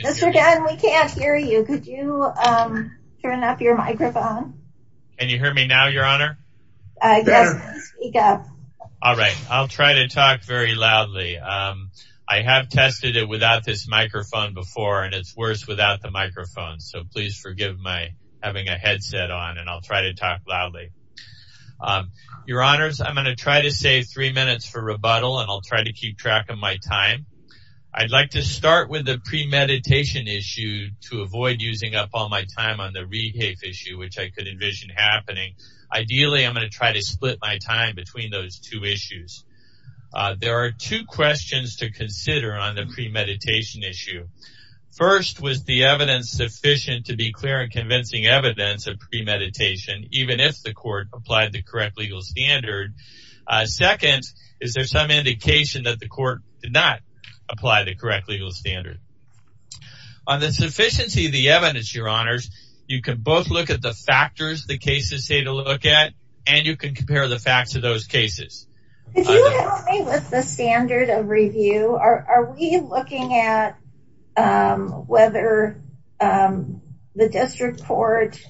Mr. Gunn, we can't hear you. Could you turn up your microphone? Can you hear me now, your honor? All right, I'll try to talk very loudly. I have tested it without this microphone before, and it's worse without the microphone. So please forgive my having a headset on, and I'll try to talk loudly. Your honors, I'm going to try to save three minutes for rebuttal, and I'll try to keep track of my time. I'd like to start with the premeditation issue to avoid using up all my time on the rehafe issue, which I could envision happening. Ideally, I'm going to try to split my time between those two issues. There are two questions to consider on the premeditation issue. First, was the evidence sufficient to be clear and convincing evidence of premeditation, even if the court applied the correct legal standard? Second, is there some indication that the court did not apply the correct legal standard? On the sufficiency of the evidence, your honors, you can both look at the factors the cases say to look at, and you can compare the facts of those cases. Could you help me with the standard of review? Are we looking at whether the district court,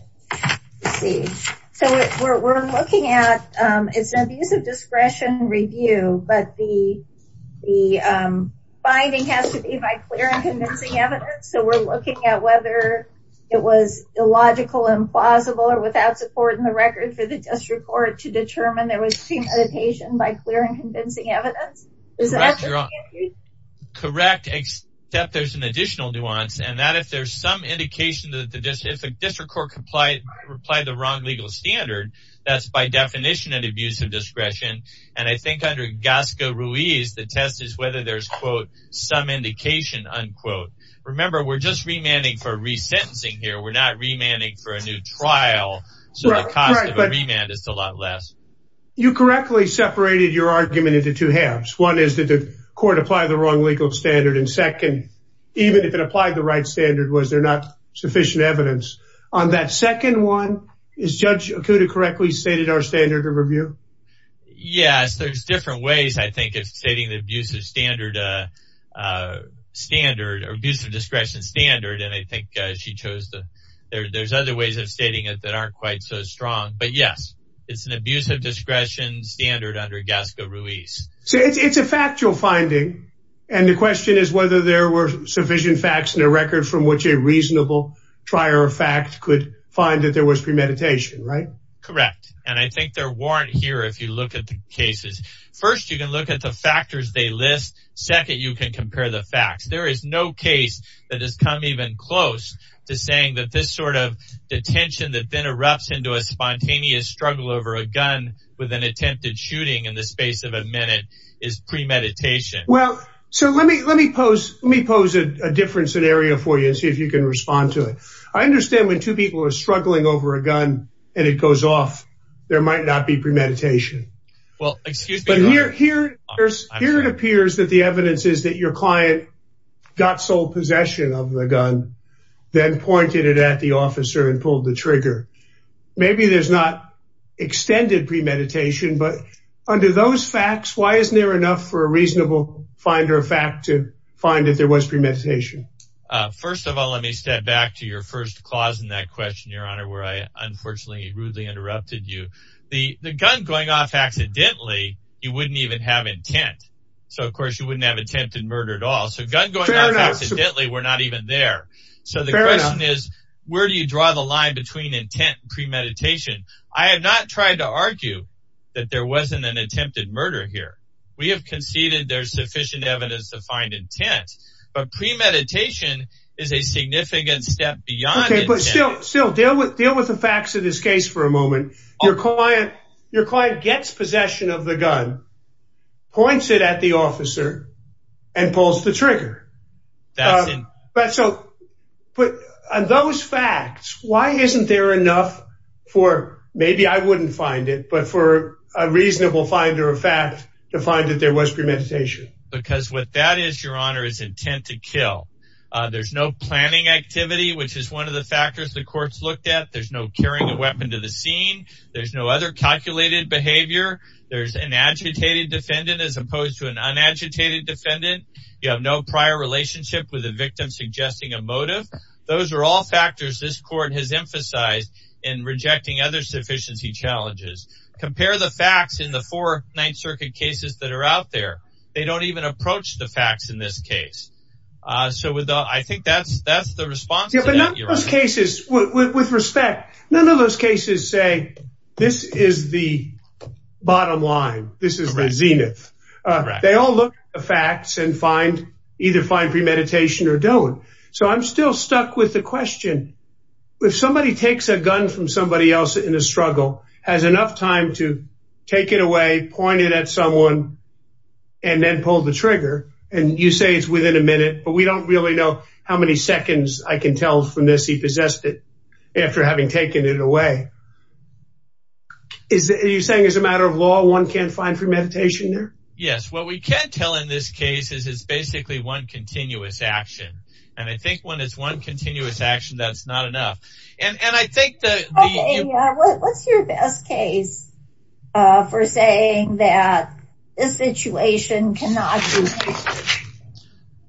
let's see, so we're looking at, it's an abuse of discretion review, but the finding has to be by clear and convincing evidence, so we're looking at whether it was illogical, implausible, or without support in the record for the district court to determine there was premeditation by clear and convincing evidence? Correct, except there's an additional nuance, and that if there's some indication that the district court applied the wrong legal standard, that's by definition an abuse of discretion, and I think under Gasca-Ruiz, the test is whether there's, quote, some indication, unquote. Remember, we're just remanding for resentencing here. We're not remanding for a new trial, so the cost of a remand is a lot less. You correctly separated your argument into two halves. One is that the right standard was there not sufficient evidence. On that second one, is Judge Akuda correctly stated our standard of review? Yes, there's different ways, I think, of stating the abuse of standard, standard, or abuse of discretion standard, and I think she chose the, there's other ways of stating it that aren't quite so strong, but yes, it's an abuse of discretion standard under Gasca-Ruiz. So it's a factual finding, and the question is whether there were sufficient facts in a record from which a reasonable trier of facts could find that there was premeditation, right? Correct, and I think there weren't here if you look at the cases. First, you can look at the factors they list. Second, you can compare the facts. There is no case that has come even close to saying that this sort of detention that then erupts into a spontaneous struggle over a gun with an attempted shooting in the space of a minute is premeditation. Well, so let me, let me pose, let me pose a different scenario for you, and see if you can respond to it. I understand when two people are struggling over a gun, and it goes off, there might not be premeditation. Well, excuse me. But here, here, here it appears that the evidence is that your client got sole possession of the gun, then pointed it at the officer and pulled the trigger. Maybe there's not extended premeditation, but under those facts, why isn't there enough for a reasonable finder of fact to find that there was premeditation? First of all, let me step back to your first clause in that question, Your Honor, where I unfortunately rudely interrupted you. The gun going off accidentally, you wouldn't even have intent. So of course, you wouldn't have attempted murder at all. So gun going off accidentally, we're not even there. So the question is, where do you draw the line between intent and premeditation? I have not tried to argue that there wasn't an attempted murder here. We have conceded there's sufficient evidence to find intent. But premeditation is a significant step beyond. Okay, but still still deal with deal with the facts of this case for a moment. Your client, your client gets possession of the gun, points it at the officer, and pulls the trigger. Maybe I wouldn't find it, but for a reasonable finder of fact to find that there was premeditation. Because what that is, Your Honor, is intent to kill. There's no planning activity, which is one of the factors the courts looked at. There's no carrying a weapon to the scene. There's no other calculated behavior. There's an agitated defendant as opposed to an unagitated defendant. You have no prior relationship with a victim suggesting a motive. Those are all factors this court has emphasized in rejecting other sufficiency challenges. Compare the facts in the four Ninth Circuit cases that are out there. They don't even approach the facts in this case. So with that, I think that's that's the response. Yeah, but none of those cases, with respect, none of those cases say, this is the bottom line. This is the zenith. They all look at the facts and find either find premeditation or don't. So I'm still stuck with the question. If somebody takes a gun from somebody else in a struggle, has enough time to take it away, point it at someone, and then pull the trigger, and you say it's within a minute, but we don't really know how many seconds I can tell from this. He possessed it after having taken it away. You're saying it's a matter of law, one can't find premeditation there? Yes. What we can tell in this case is it's I think when it's one continuous action, that's not enough. And I think that what's your best case for saying that this situation cannot be?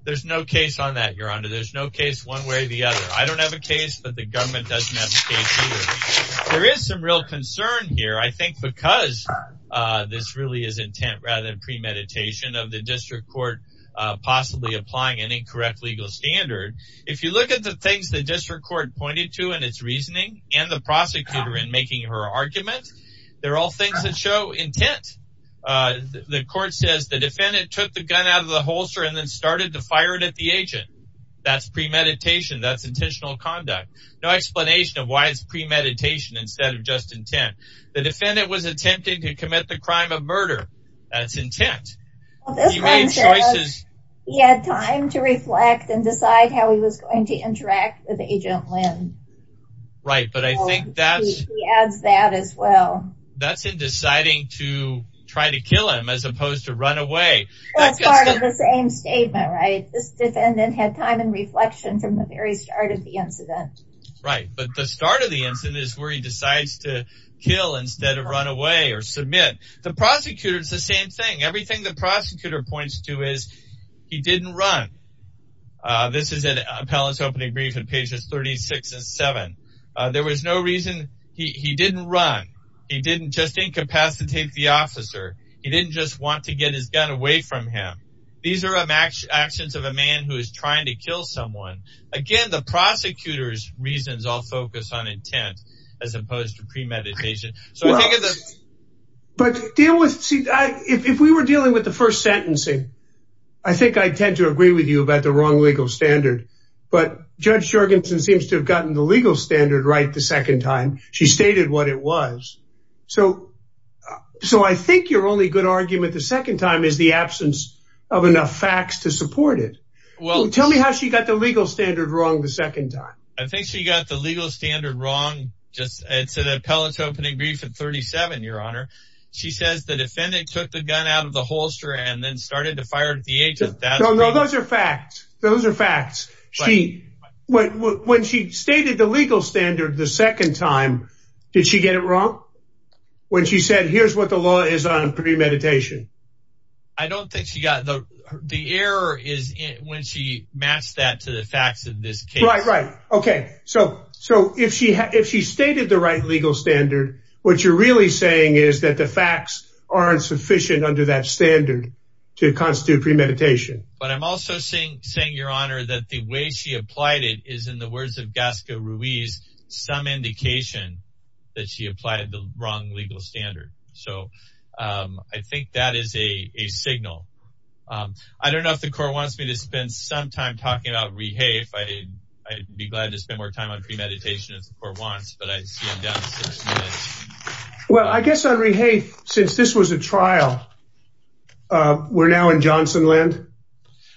There's no case on that, your honor. There's no case one way or the other. I don't have a case, but the government doesn't have a case. There is some real concern here, I think, because this really is intent rather than premeditation of the district court, possibly applying an If you look at the things the district court pointed to in its reasoning and the prosecutor in making her argument, they're all things that show intent. The court says the defendant took the gun out of the holster and then started to fire it at the agent. That's premeditation. That's intentional conduct. No explanation of why it's premeditation instead of just intent. The defendant was attempting to commit the crime of murder. That's intent. Well, this one says he had time to reflect and decide how he was going to interact with Agent Lynn. Right. But I think that adds that as well. That's in deciding to try to kill him as opposed to run away. That's part of the same statement, right? This defendant had time and reflection from the very start of the incident. Right. But the start of the incident is where he decides to run away or submit the prosecutor. It's the same thing. Everything the prosecutor points to is he didn't run. This is an appellant's opening brief and pages 36 and 7. There was no reason he didn't run. He didn't just incapacitate the officer. He didn't just want to get his gun away from him. These are actions of a man who is trying to kill someone. Again, the prosecutor's reasons all focus on intent as opposed to premeditation. Well, but if we were dealing with the first sentencing, I think I'd tend to agree with you about the wrong legal standard. But Judge Jorgensen seems to have gotten the legal standard right the second time. She stated what it was. So I think your only good argument the second time is the absence of enough facts to support it. Well, tell me how she got the legal standard wrong the second time. I think she got the legal standard wrong. It's an appellant's opening brief at 37, Your Honor. She says the defendant took the gun out of the holster and then started to fire at the agent. No, those are facts. Those are facts. When she stated the legal standard the second time, did she get it wrong? When she said, here's what the law is on premeditation? I don't think she got it. The error is when she matched that to the facts of this case. Okay. So if she stated the right legal standard, what you're really saying is that the facts aren't sufficient under that standard to constitute premeditation. But I'm also saying, Your Honor, that the way she applied it is in the words of Gasca Ruiz, some indication that she applied the wrong legal standard. So I think that is a signal. I don't know if the court wants me to spend some time talking about Rehae. I'd be glad to spend more time on premeditation if the court wants, but I see I'm down to six minutes. Well, I guess on Rehae, since this was a trial, we're now in Johnsonland.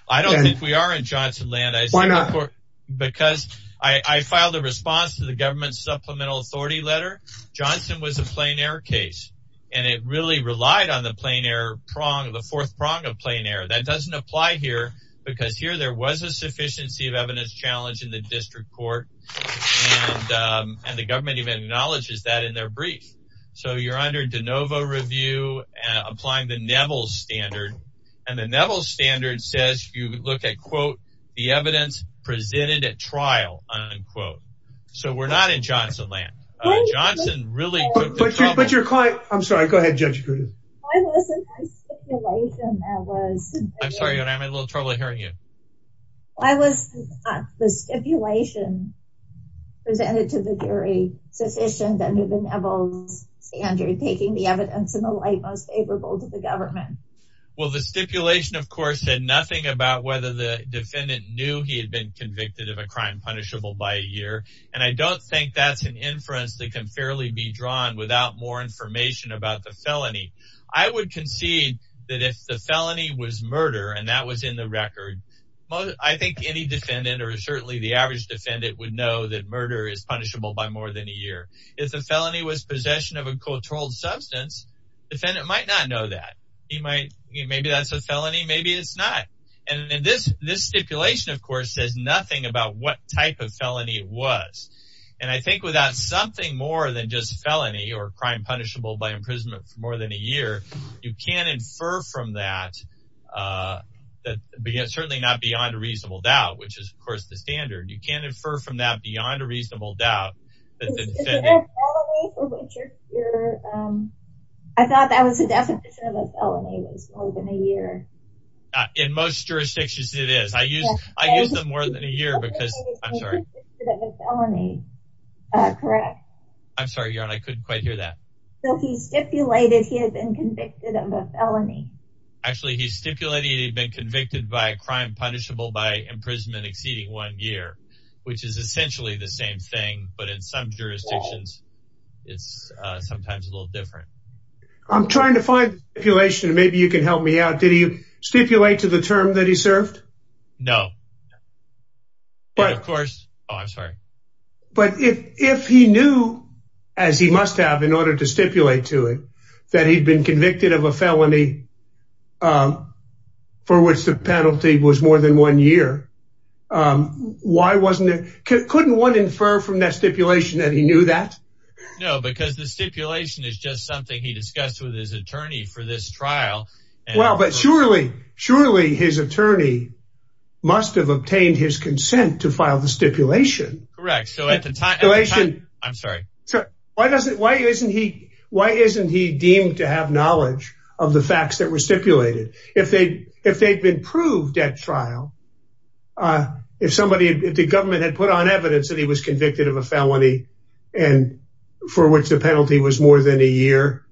I don't think we are in Johnsonland. Why not? Because I filed a response to the government's supplemental authority letter. Johnson was a relied on the fourth prong of plain error. That doesn't apply here because here there was a sufficiency of evidence challenge in the district court, and the government even acknowledges that in their brief. So you're under de novo review, applying the Neville standard, and the Neville standard says you look at, quote, the evidence presented at trial, unquote. So we're not in Why wasn't the stipulation presented to the jury sufficient under the Neville standard, taking the evidence in the light most favorable to the government? Well, the stipulation, of course, said nothing about whether the defendant knew he had been convicted of a crime punishable by a year, and I don't think that's an inference that can fairly be drawn without more information about the felony. I would concede that if the felony was murder and that was in the record, I think any defendant or certainly the average defendant would know that murder is punishable by more than a year. If the felony was possession of a controlled substance, the defendant might not know that. Maybe that's a felony, maybe it's not. And this stipulation, of course, says nothing about what type of felony it was, and I think without something more than just felony or crime punishable by imprisonment for more than a year, you can't infer from that, certainly not beyond a reasonable doubt, which is, of course, the standard. You can't infer from that beyond a reasonable doubt. I thought that was the definition of a felony was more than a year. In most jurisdictions, it is. I use them more than a year. I'm sorry, I couldn't quite hear that. So he stipulated he had been convicted of a felony. Actually, he stipulated he'd been convicted by a crime punishable by imprisonment exceeding one year, which is essentially the same thing, but in some jurisdictions, it's sometimes a little different. I'm trying to find the stipulation. Maybe you can help me out. Did he stipulate to the term that he served? No. But if he knew, as he must have in order to stipulate to it, that he'd been convicted of a felony for which the penalty was more than one year, why wasn't it? Couldn't one infer from that stipulation that he knew that? No, because the stipulation is just something he discussed with his attorney for this trial. Well, but surely surely his attorney must have obtained his consent to file the stipulation. Correct. So at the time, I'm sorry. So why doesn't why isn't he? Why isn't he deemed to have knowledge of the facts that were stipulated if they if they'd been proved at trial? If somebody if the government had put on evidence that he was convicted of a felony and for which the penalty was more than a year,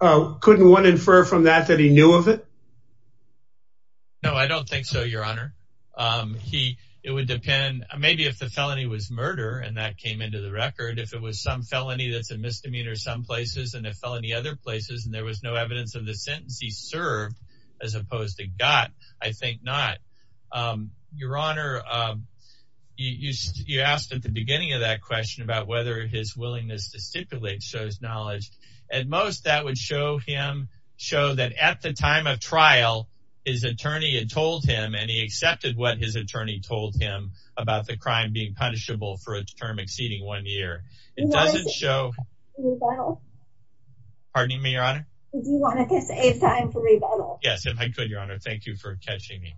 couldn't one infer from that that he knew of it? No, I don't think so, Your Honor. He it would depend maybe if the felony was murder and that came into the record. If it was some felony that's a misdemeanor some places and a felony other places and there was no evidence of the sentence he served as opposed to got, I think not. Your Honor, you asked at the beginning of that question about whether his willingness to stipulate shows knowledge. At most that would show him show that at the time of trial his attorney had told him and he accepted what his attorney told him about the crime being punishable for a term exceeding one year. It doesn't show. Pardon me, Your Honor. Do you want to save time for rebuttal? Yes, if I could, thank you for catching me.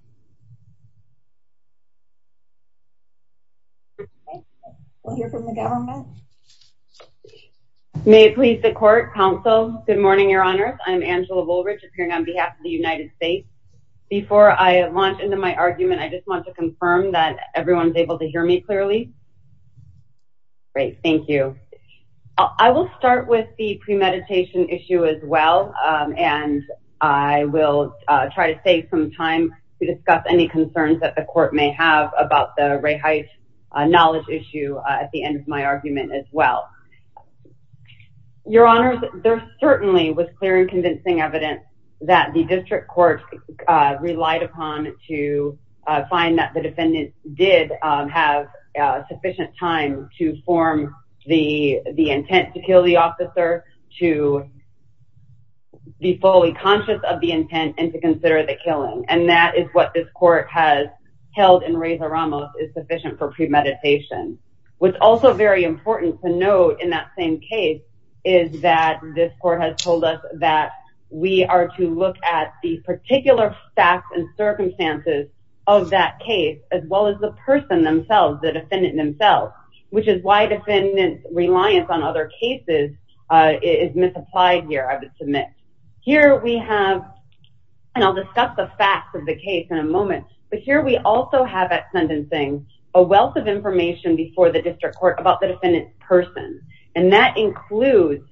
We'll hear from the government. May it please the court, counsel. Good morning, Your Honors. I'm Angela Woolrich appearing on behalf of the United States. Before I launch into my argument, I just want to confirm that everyone's able to hear me clearly. Great, thank you. I will start with the premeditation issue as well and I will try to save some time to discuss any concerns that the court may have about the Ray Height knowledge issue at the end of my argument as well. Your Honors, there certainly was clear and convincing evidence that the district court relied upon to find that the defendant did have sufficient time to form the intent to kill the officer, to be fully conscious of the killing, and that is what this court has held in Reza Ramos is sufficient for premeditation. What's also very important to note in that same case is that this court has told us that we are to look at the particular facts and circumstances of that case as well as the person themselves, the defendant themselves, which is why defendant's reliance on other cases is misapplied here, here we have, and I'll discuss the facts of the case in a moment, but here we also have at sentencing a wealth of information before the district court about the defendant's person, and that includes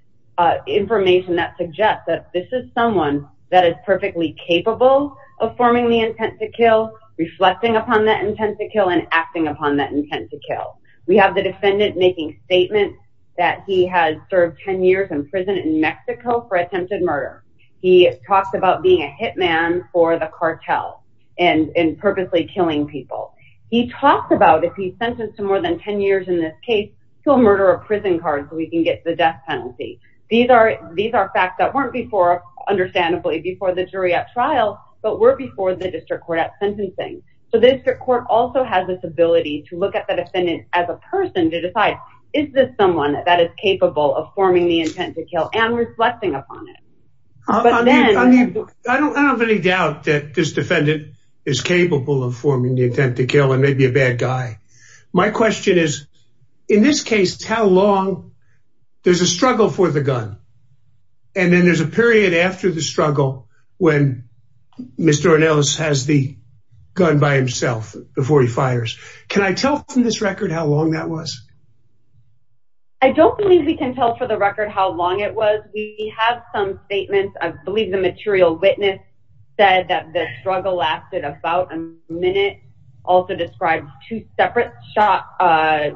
information that suggests that this is someone that is perfectly capable of forming the intent to kill, reflecting upon that intent to kill, and acting upon that intent to kill. We have the defendant making statements that he has served 10 years in prison in Mexico for attempted murder. He talks about being a hitman for the cartel and purposely killing people. He talks about if he's sentenced to more than 10 years in this case, he'll murder a prison card so he can get the death penalty. These are facts that weren't before, understandably, before the jury at trial, but were before the district court at sentencing, so the district court also has this ability to look at the defendant as a person to decide, is this someone that is capable of forming the intent to kill, and reflecting upon it. I don't have any doubt that this defendant is capable of forming the intent to kill and maybe a bad guy. My question is, in this case, how long, there's a struggle for the gun, and then there's a period after the struggle when Mr. Ornelas has the gun by himself before he fires. Can I tell from this record how long that was? I don't believe we can tell for the record how long it was. We have some statements, I believe the material witness said that the struggle lasted about a minute, also describes two separate shot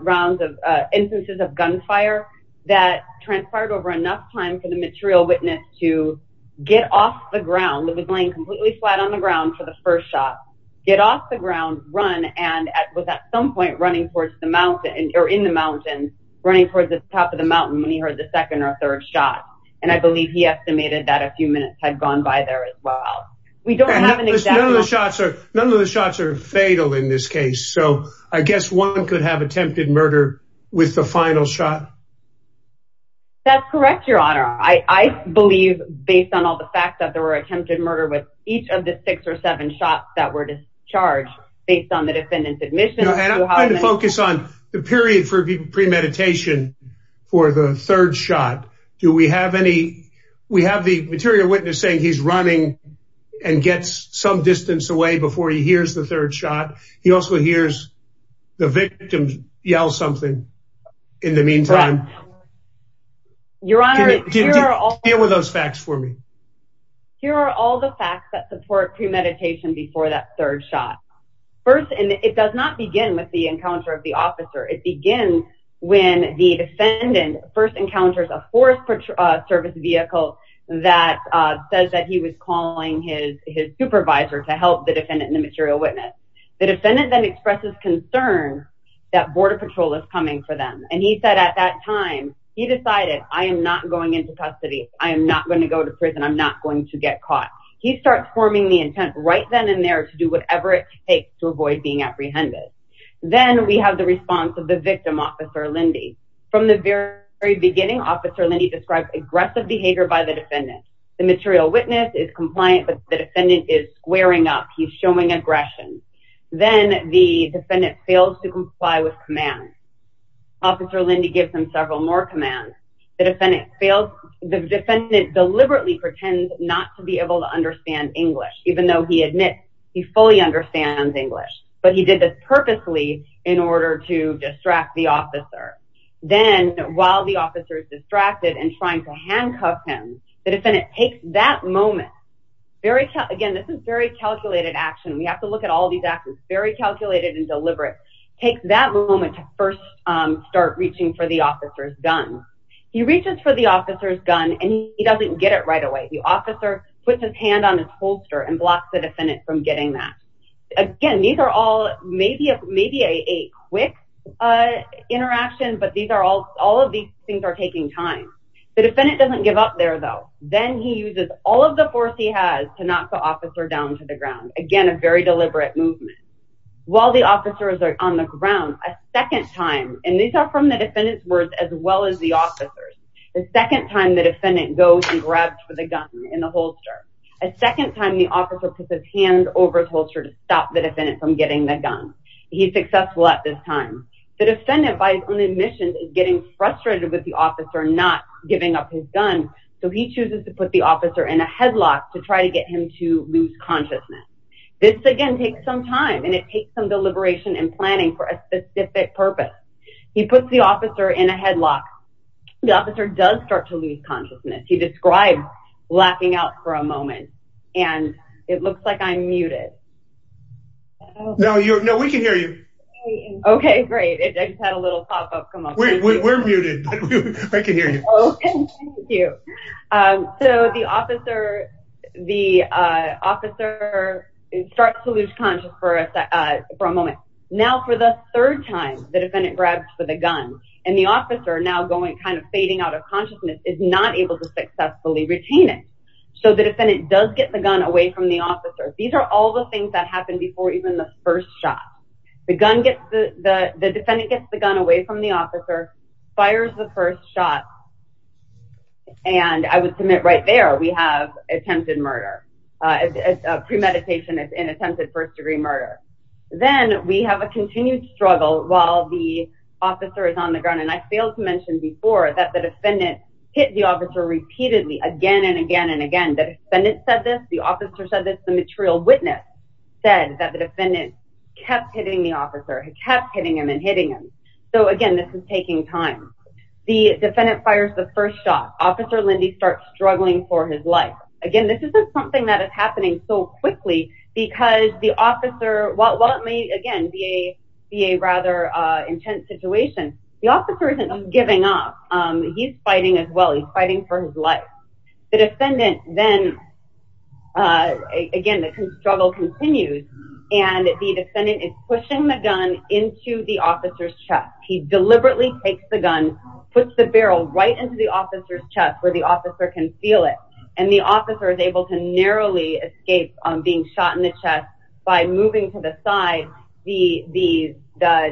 rounds of instances of gunfire that transpired over enough time for the material witness to get off the ground, he was laying completely flat on the ground for the first shot, get off the ground, run, and was at some point running towards the mountain, or in the mountains, running towards the top of the mountain when he heard the second or third shot, and I believe he estimated that a few minutes had gone by there as well. None of the shots are fatal in this case, so I guess one could have attempted murder with the final shot? That's correct, your honor. I believe based on all the facts that there were attempted murder with each of the six or seven shots that were discharged based on the defendant's admission. And I'm going to focus on the period for premeditation for the third shot. Do we have any, we have the material witness saying he's running and gets some distance away before he hears the third shot, he also hears the victims yell something in the meantime. Your honor, here are those facts for me. Here are all the facts that support premeditation before that third shot. First, and it does not begin with the encounter of the officer, it begins when the defendant first encounters a force service vehicle that says that he was calling his supervisor to help the defendant and the material witness. The defendant then expresses concern that border patrol is coming for them, and he said at that time, he decided, I am not going into custody, I am not going to go to prison, I'm not going to get caught. He starts forming the intent right then and there to do whatever it takes to avoid being apprehended. Then we have the response of the victim, Officer Lindy. From the very beginning, Officer Lindy describes aggressive behavior by the defendant. The material witness is compliant, but the defendant is squaring up, he's showing aggression. Then the defendant fails to comply with commands. Officer Lindy gives him several more commands. The defendant deliberately pretends not to be able to understand English, even though he admits he fully understands English, but he did this purposely in order to distract the officer. Then, while the officer is distracted and trying to handcuff him, the defendant takes that moment, again, this is very calculated action, we have to look at all these actions, very calculated and deliberate, takes that moment to first start reaching for the officer's gun. He reaches for the officer's gun, and he doesn't get it right away. The officer puts his hand on his holster and blocks the defendant from getting that. Again, these are all maybe a quick interaction, but all of these things are taking time. The defendant doesn't give up there, though. Then he uses all of the force he has to knock the officer down to the ground. Again, a very deliberate movement. While the officers are on the ground, a second time, and these are from the defendant's words as well as the officer's, the second time the defendant goes and grabs for the gun in the officer puts his hand over his holster to stop the defendant from getting the gun. He's successful at this time. The defendant, by his own admission, is getting frustrated with the officer not giving up his gun, so he chooses to put the officer in a headlock to try to get him to lose consciousness. This, again, takes some time, and it takes some deliberation and planning for a specific purpose. He puts the officer in a headlock. The officer does start to lose consciousness. He describes laughing out for a moment, and it looks like I'm muted. No, we can hear you. Okay, great. I just had a little pop-up come up. We're muted. I can hear you. Thank you. The officer starts to lose consciousness for a moment. Now, for the third time, the defendant grabs for the gun, and the officer, now kind of fading out of consciousness, is not able to successfully retain it. So, the defendant does get the gun away from the officer. These are all the things that happen before even the first shot. The gun gets the, the defendant gets the gun away from the officer, fires the first shot, and I would submit right there we have attempted murder. Premeditation is an attempted first-degree murder. Then, we have a continued struggle while the officer is on the ground, and I failed to mention before that the defendant hit the officer repeatedly again and again and again. The defendant said this. The officer said this. The material witness said that the defendant kept hitting the officer. He kept hitting him and hitting him. So, again, this is taking time. The defendant fires the first shot. Officer Lindy starts struggling for his life. Again, this isn't something that is happening so quickly because the officer, while it may, again, be a intense situation, the officer isn't giving up. He's fighting as well. He's fighting for his life. The defendant then, again, the struggle continues, and the defendant is pushing the gun into the officer's chest. He deliberately takes the gun, puts the barrel right into the officer's chest where the officer can feel it, and the officer is able to narrowly escape being shot in the chest by moving to the side. The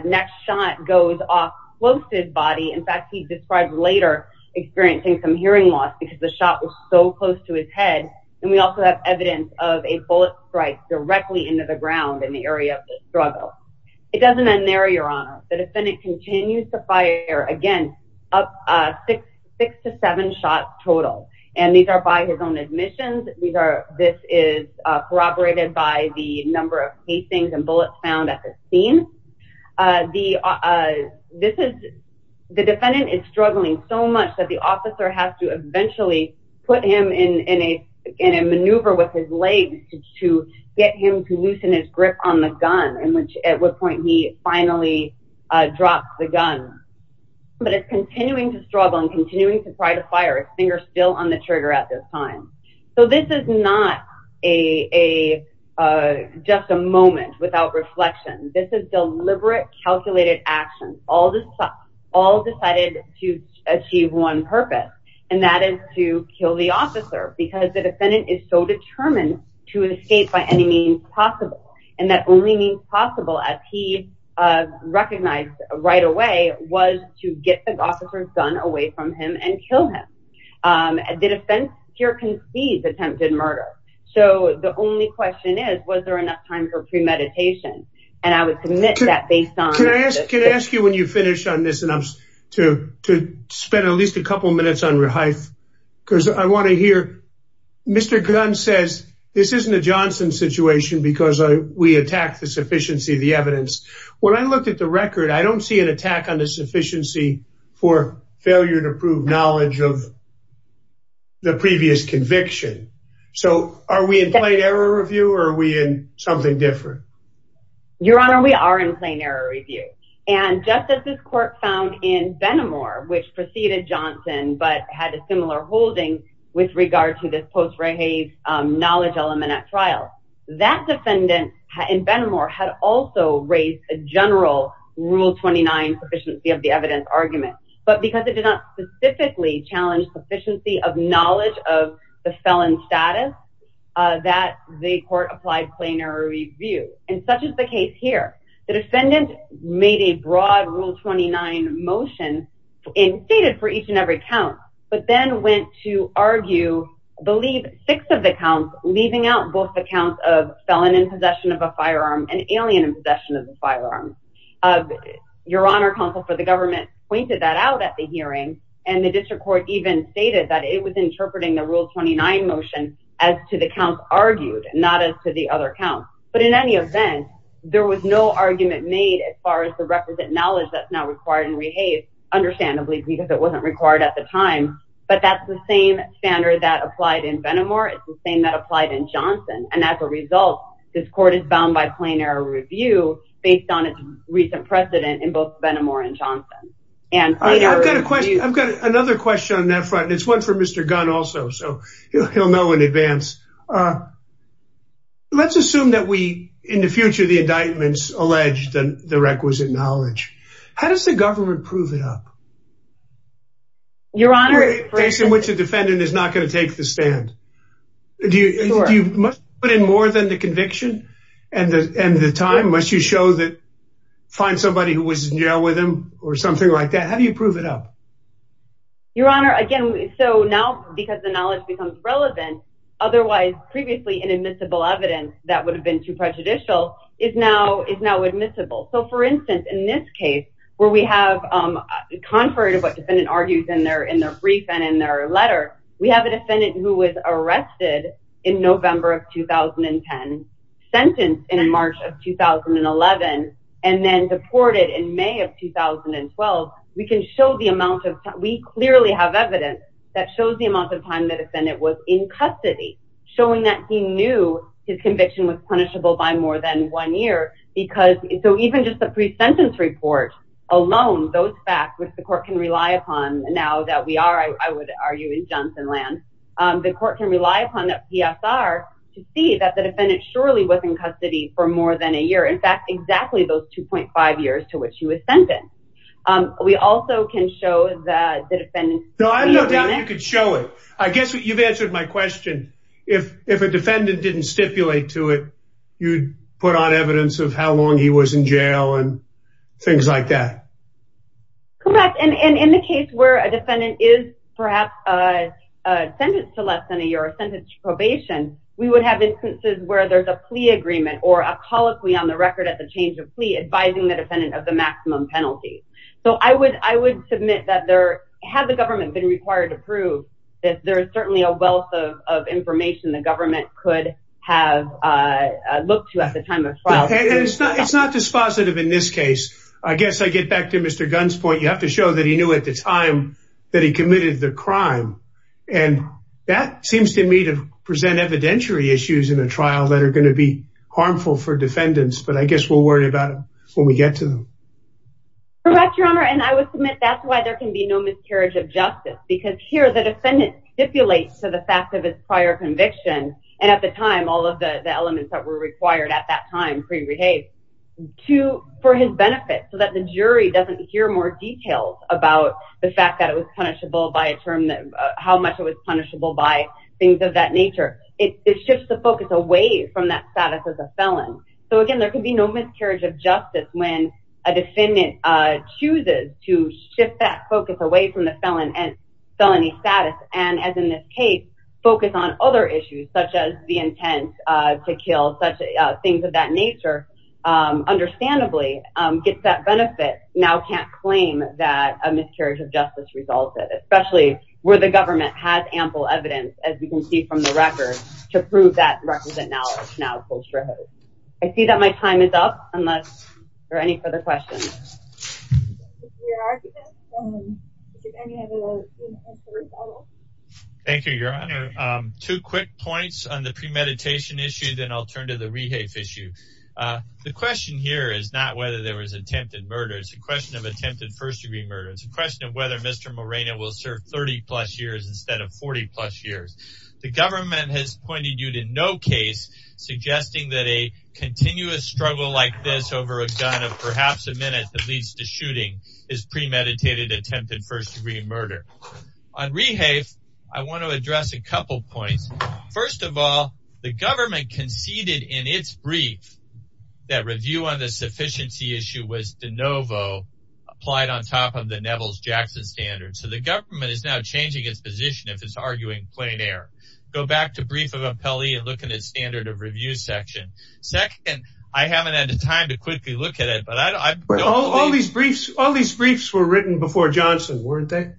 next shot goes off close to his body. In fact, he described later experiencing some hearing loss because the shot was so close to his head, and we also have evidence of a bullet strike directly into the ground in the area of the struggle. It doesn't end there, Your Honor. The defendant continues to fire, again, up six to seven shots total, and these are by his own admissions. This is corroborated by the number of casings and bullets found at the scene. The defendant is struggling so much that the officer has to eventually put him in a maneuver with his legs to get him to loosen his grip on the gun, at which point he finally drops the gun, but it's continuing to struggle and continuing to try to fire, his finger still on the trigger at this time. So, this is not just a moment without reflection. This is deliberate, calculated action. All decided to achieve one purpose, and that is to kill the officer because the defendant is so determined to escape by any means possible, and that only means possible as he recognized right away was to get the officer's son away from him and kill him. The defense here concedes attempted murder, so the only question is, was there enough time for premeditation, and I would submit that based on... Can I ask you, when you finish on this, and I'm to spend at least a couple minutes on rehaif, because I want to hear... Mr. Gunn says, this isn't a Johnson situation because we attack the sufficiency of the evidence. When I looked at the record, I don't see an attack on the sufficiency for failure to prove knowledge of the previous conviction. So, are we in plain error review, or are we in something different? Your Honor, we are in plain error review, and just as this court found in Benamor, which preceded Johnson, but had a similar holding with regard to this post-rehaif knowledge element at a general Rule 29 sufficiency of the evidence argument, but because it did not specifically challenge sufficiency of knowledge of the felon status, that the court applied plain error review, and such is the case here. The defendant made a broad Rule 29 motion and stated for each and every count, but then went to argue, I believe, six of the counts, leaving out both the counts of alien possession of the firearms. Your Honor, counsel for the government pointed that out at the hearing, and the district court even stated that it was interpreting the Rule 29 motion as to the counts argued, not as to the other counts. But in any event, there was no argument made as far as the requisite knowledge that's now required in rehaif, understandably because it wasn't required at the time, but that's the same standard that applied in Benamor, it's the same that applied in Johnson, and as a result, this court is bound by plain error review based on its recent precedent in both Benamor and Johnson. And I've got a question, I've got another question on that front, and it's one for Mr. Gunn also, so he'll know in advance. Let's assume that we, in the future, the indictments allege the requisite knowledge. How does the government prove it up? Your Honor, for instance, in which the defendant is not going to take the stand. Do you, do you put in more than the conviction and the, and the time? Must you show that, find somebody who was in jail with him or something like that? How do you prove it up? Your Honor, again, so now because the knowledge becomes relevant, otherwise previously inadmissible evidence that would have been too prejudicial is now, is now admissible. So for instance, in this where we have, contrary to what defendant argues in their, in their brief and in their letter, we have a defendant who was arrested in November of 2010, sentenced in March of 2011, and then deported in May of 2012. We can show the amount of time, we clearly have evidence that shows the amount of time the defendant was in custody, showing that he knew his conviction was punishable by more than one year, because, so even just the pre-sentence report alone, those facts, which the court can rely upon now that we are, I would argue, in Johnsonland, the court can rely upon that PSR to see that the defendant surely was in custody for more than a year. In fact, exactly those 2.5 years to which he was sentenced. We also can show that the defendant... No, I have no doubt you could show it. I guess you've answered my question. If, if a defendant didn't stipulate to it, you'd put on evidence of how long he was in jail and things like that. Correct, and in the case where a defendant is perhaps a sentence to less than a year, a sentence to probation, we would have instances where there's a plea agreement or a colloquy on the record at the change of plea advising the defendant of the maximum penalty. So I would, I would submit that there, had the government been required to prove that there is certainly a wealth of information the government could have looked to at the time of trial. It's not dispositive in this case. I guess I get back to Mr. Gunn's point. You have to show that he knew at the time that he committed the crime, and that seems to me to present evidentiary issues in a trial that are going to be harmful for defendants, but I guess we'll worry about it when we get to them. Correct, Your Honor, and I would submit that's why there can be no miscarriage of justice, because here the defendant stipulates to the fact of his prior conviction, and at the time all of the elements that were required at that time pre-rehave, to, for his benefit, so that the jury doesn't hear more details about the fact that it was punishable by a term that, how much it was punishable by things of that nature. It shifts the focus away from that status as a felon. So again, there could be no miscarriage of justice when a defendant chooses to shift that focus away from the felon and felony status, and as in this case, focus on other issues such as the intent to kill, such things of that nature, understandably gets that benefit, now can't claim that a miscarriage of justice resulted, especially where the government has ample evidence, as we can see from the record, to prove that knowledge. I see that my time is up, unless there are any further questions. Thank you, Your Honor. Two quick points on the premeditation issue, then I'll turn to the rehave issue. The question here is not whether there was attempted murder, it's a question of attempted first-degree murder. It's a question of whether Mr. Moreno will serve 30 plus years instead of 40 plus years. The government has pointed you to no case suggesting that a continuous struggle like this over a gun of perhaps a minute that leads to shooting is premeditated attempted first-degree murder. On rehave, I want to address a couple points. First of all, the government conceded in its brief that review on the sufficiency issue was de novo, applied on top of the Nevels-Jackson standard. So the government is now changing its position if it's arguing plein air. Go back to brief of appellee and look at its standard of review section. Second, I haven't had the time to quickly look at it, but I don't... All these briefs were written before Johnson, weren't they?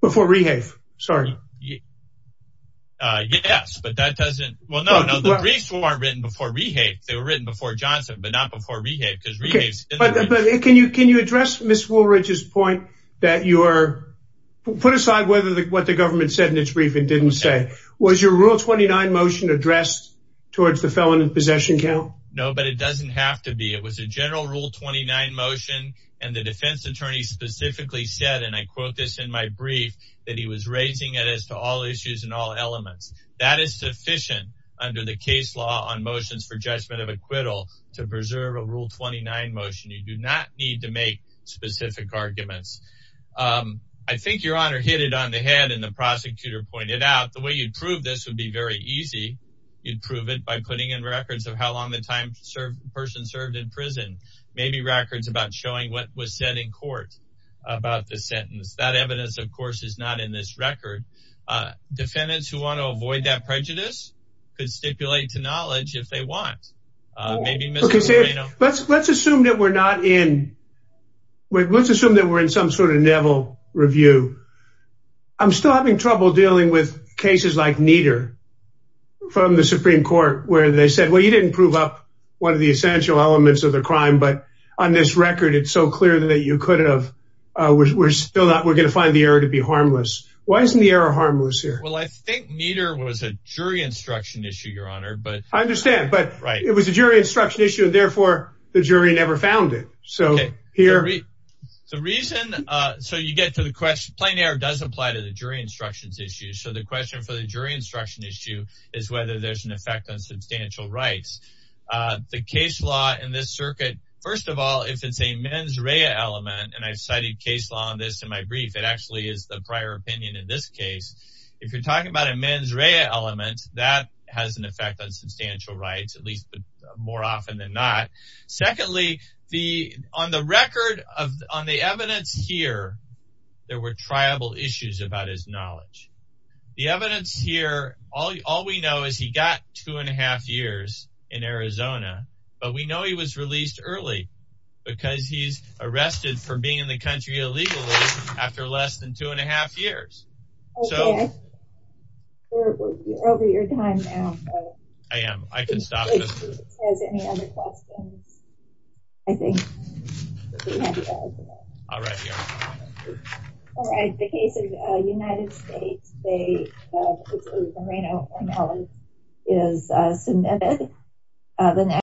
Before rehave, sorry. Yes, but that doesn't... Well, no, the briefs weren't written before rehave, they were written before Johnson, but not before rehave, because rehave... Can you address Ms. Woolridge's point that you are... Put aside what the government said in its brief and didn't say. Was your rule 29 motion addressed towards the felon in possession count? No, but it doesn't have to be. It was a general rule 29 motion and the defense attorney specifically said, and I quote this in my brief, that he was raising it as to all issues and all elements. That is sufficient under the case law on motions for judgment of acquittal to preserve a rule 29 motion. You do not need to make specific arguments. I think your honor hit it on the head and the prosecutor pointed out, the way you'd prove this would be very easy. You'd prove it by putting in records of how long the person served in prison, maybe records about showing what was said in court about the sentence. That evidence, of course, is not in this record. Defendants who want to avoid that prejudice could stipulate to not. Let's assume that we're in some sort of Neville review. I'm still having trouble dealing with cases like Nieder from the Supreme Court where they said, well, you didn't prove up one of the essential elements of the crime, but on this record, it's so clear that you could have... We're going to find the error to be harmless. Why isn't the error harmless here? Well, I think Nieder was a jury instruction issue, your honor, but... Okay. The reason, so you get to the question, plain error does apply to the jury instructions issue. So the question for the jury instruction issue is whether there's an effect on substantial rights. The case law in this circuit, first of all, if it's a mens rea element, and I've studied case law on this in my brief, it actually is the prior opinion in this case. If you're talking about a mens rea element, that has an effect on substantial rights, at least more often than not. Secondly, on the record, on the evidence here, there were tribal issues about his knowledge. The evidence here, all we know is he got two and a half years in Arizona, but we know he was released early because he's arrested for being in the area. If anyone has any other questions, I think we have to close here. All right, your honor. All right. The case of the United States, they, which is Lorena O'Malley, is submitted.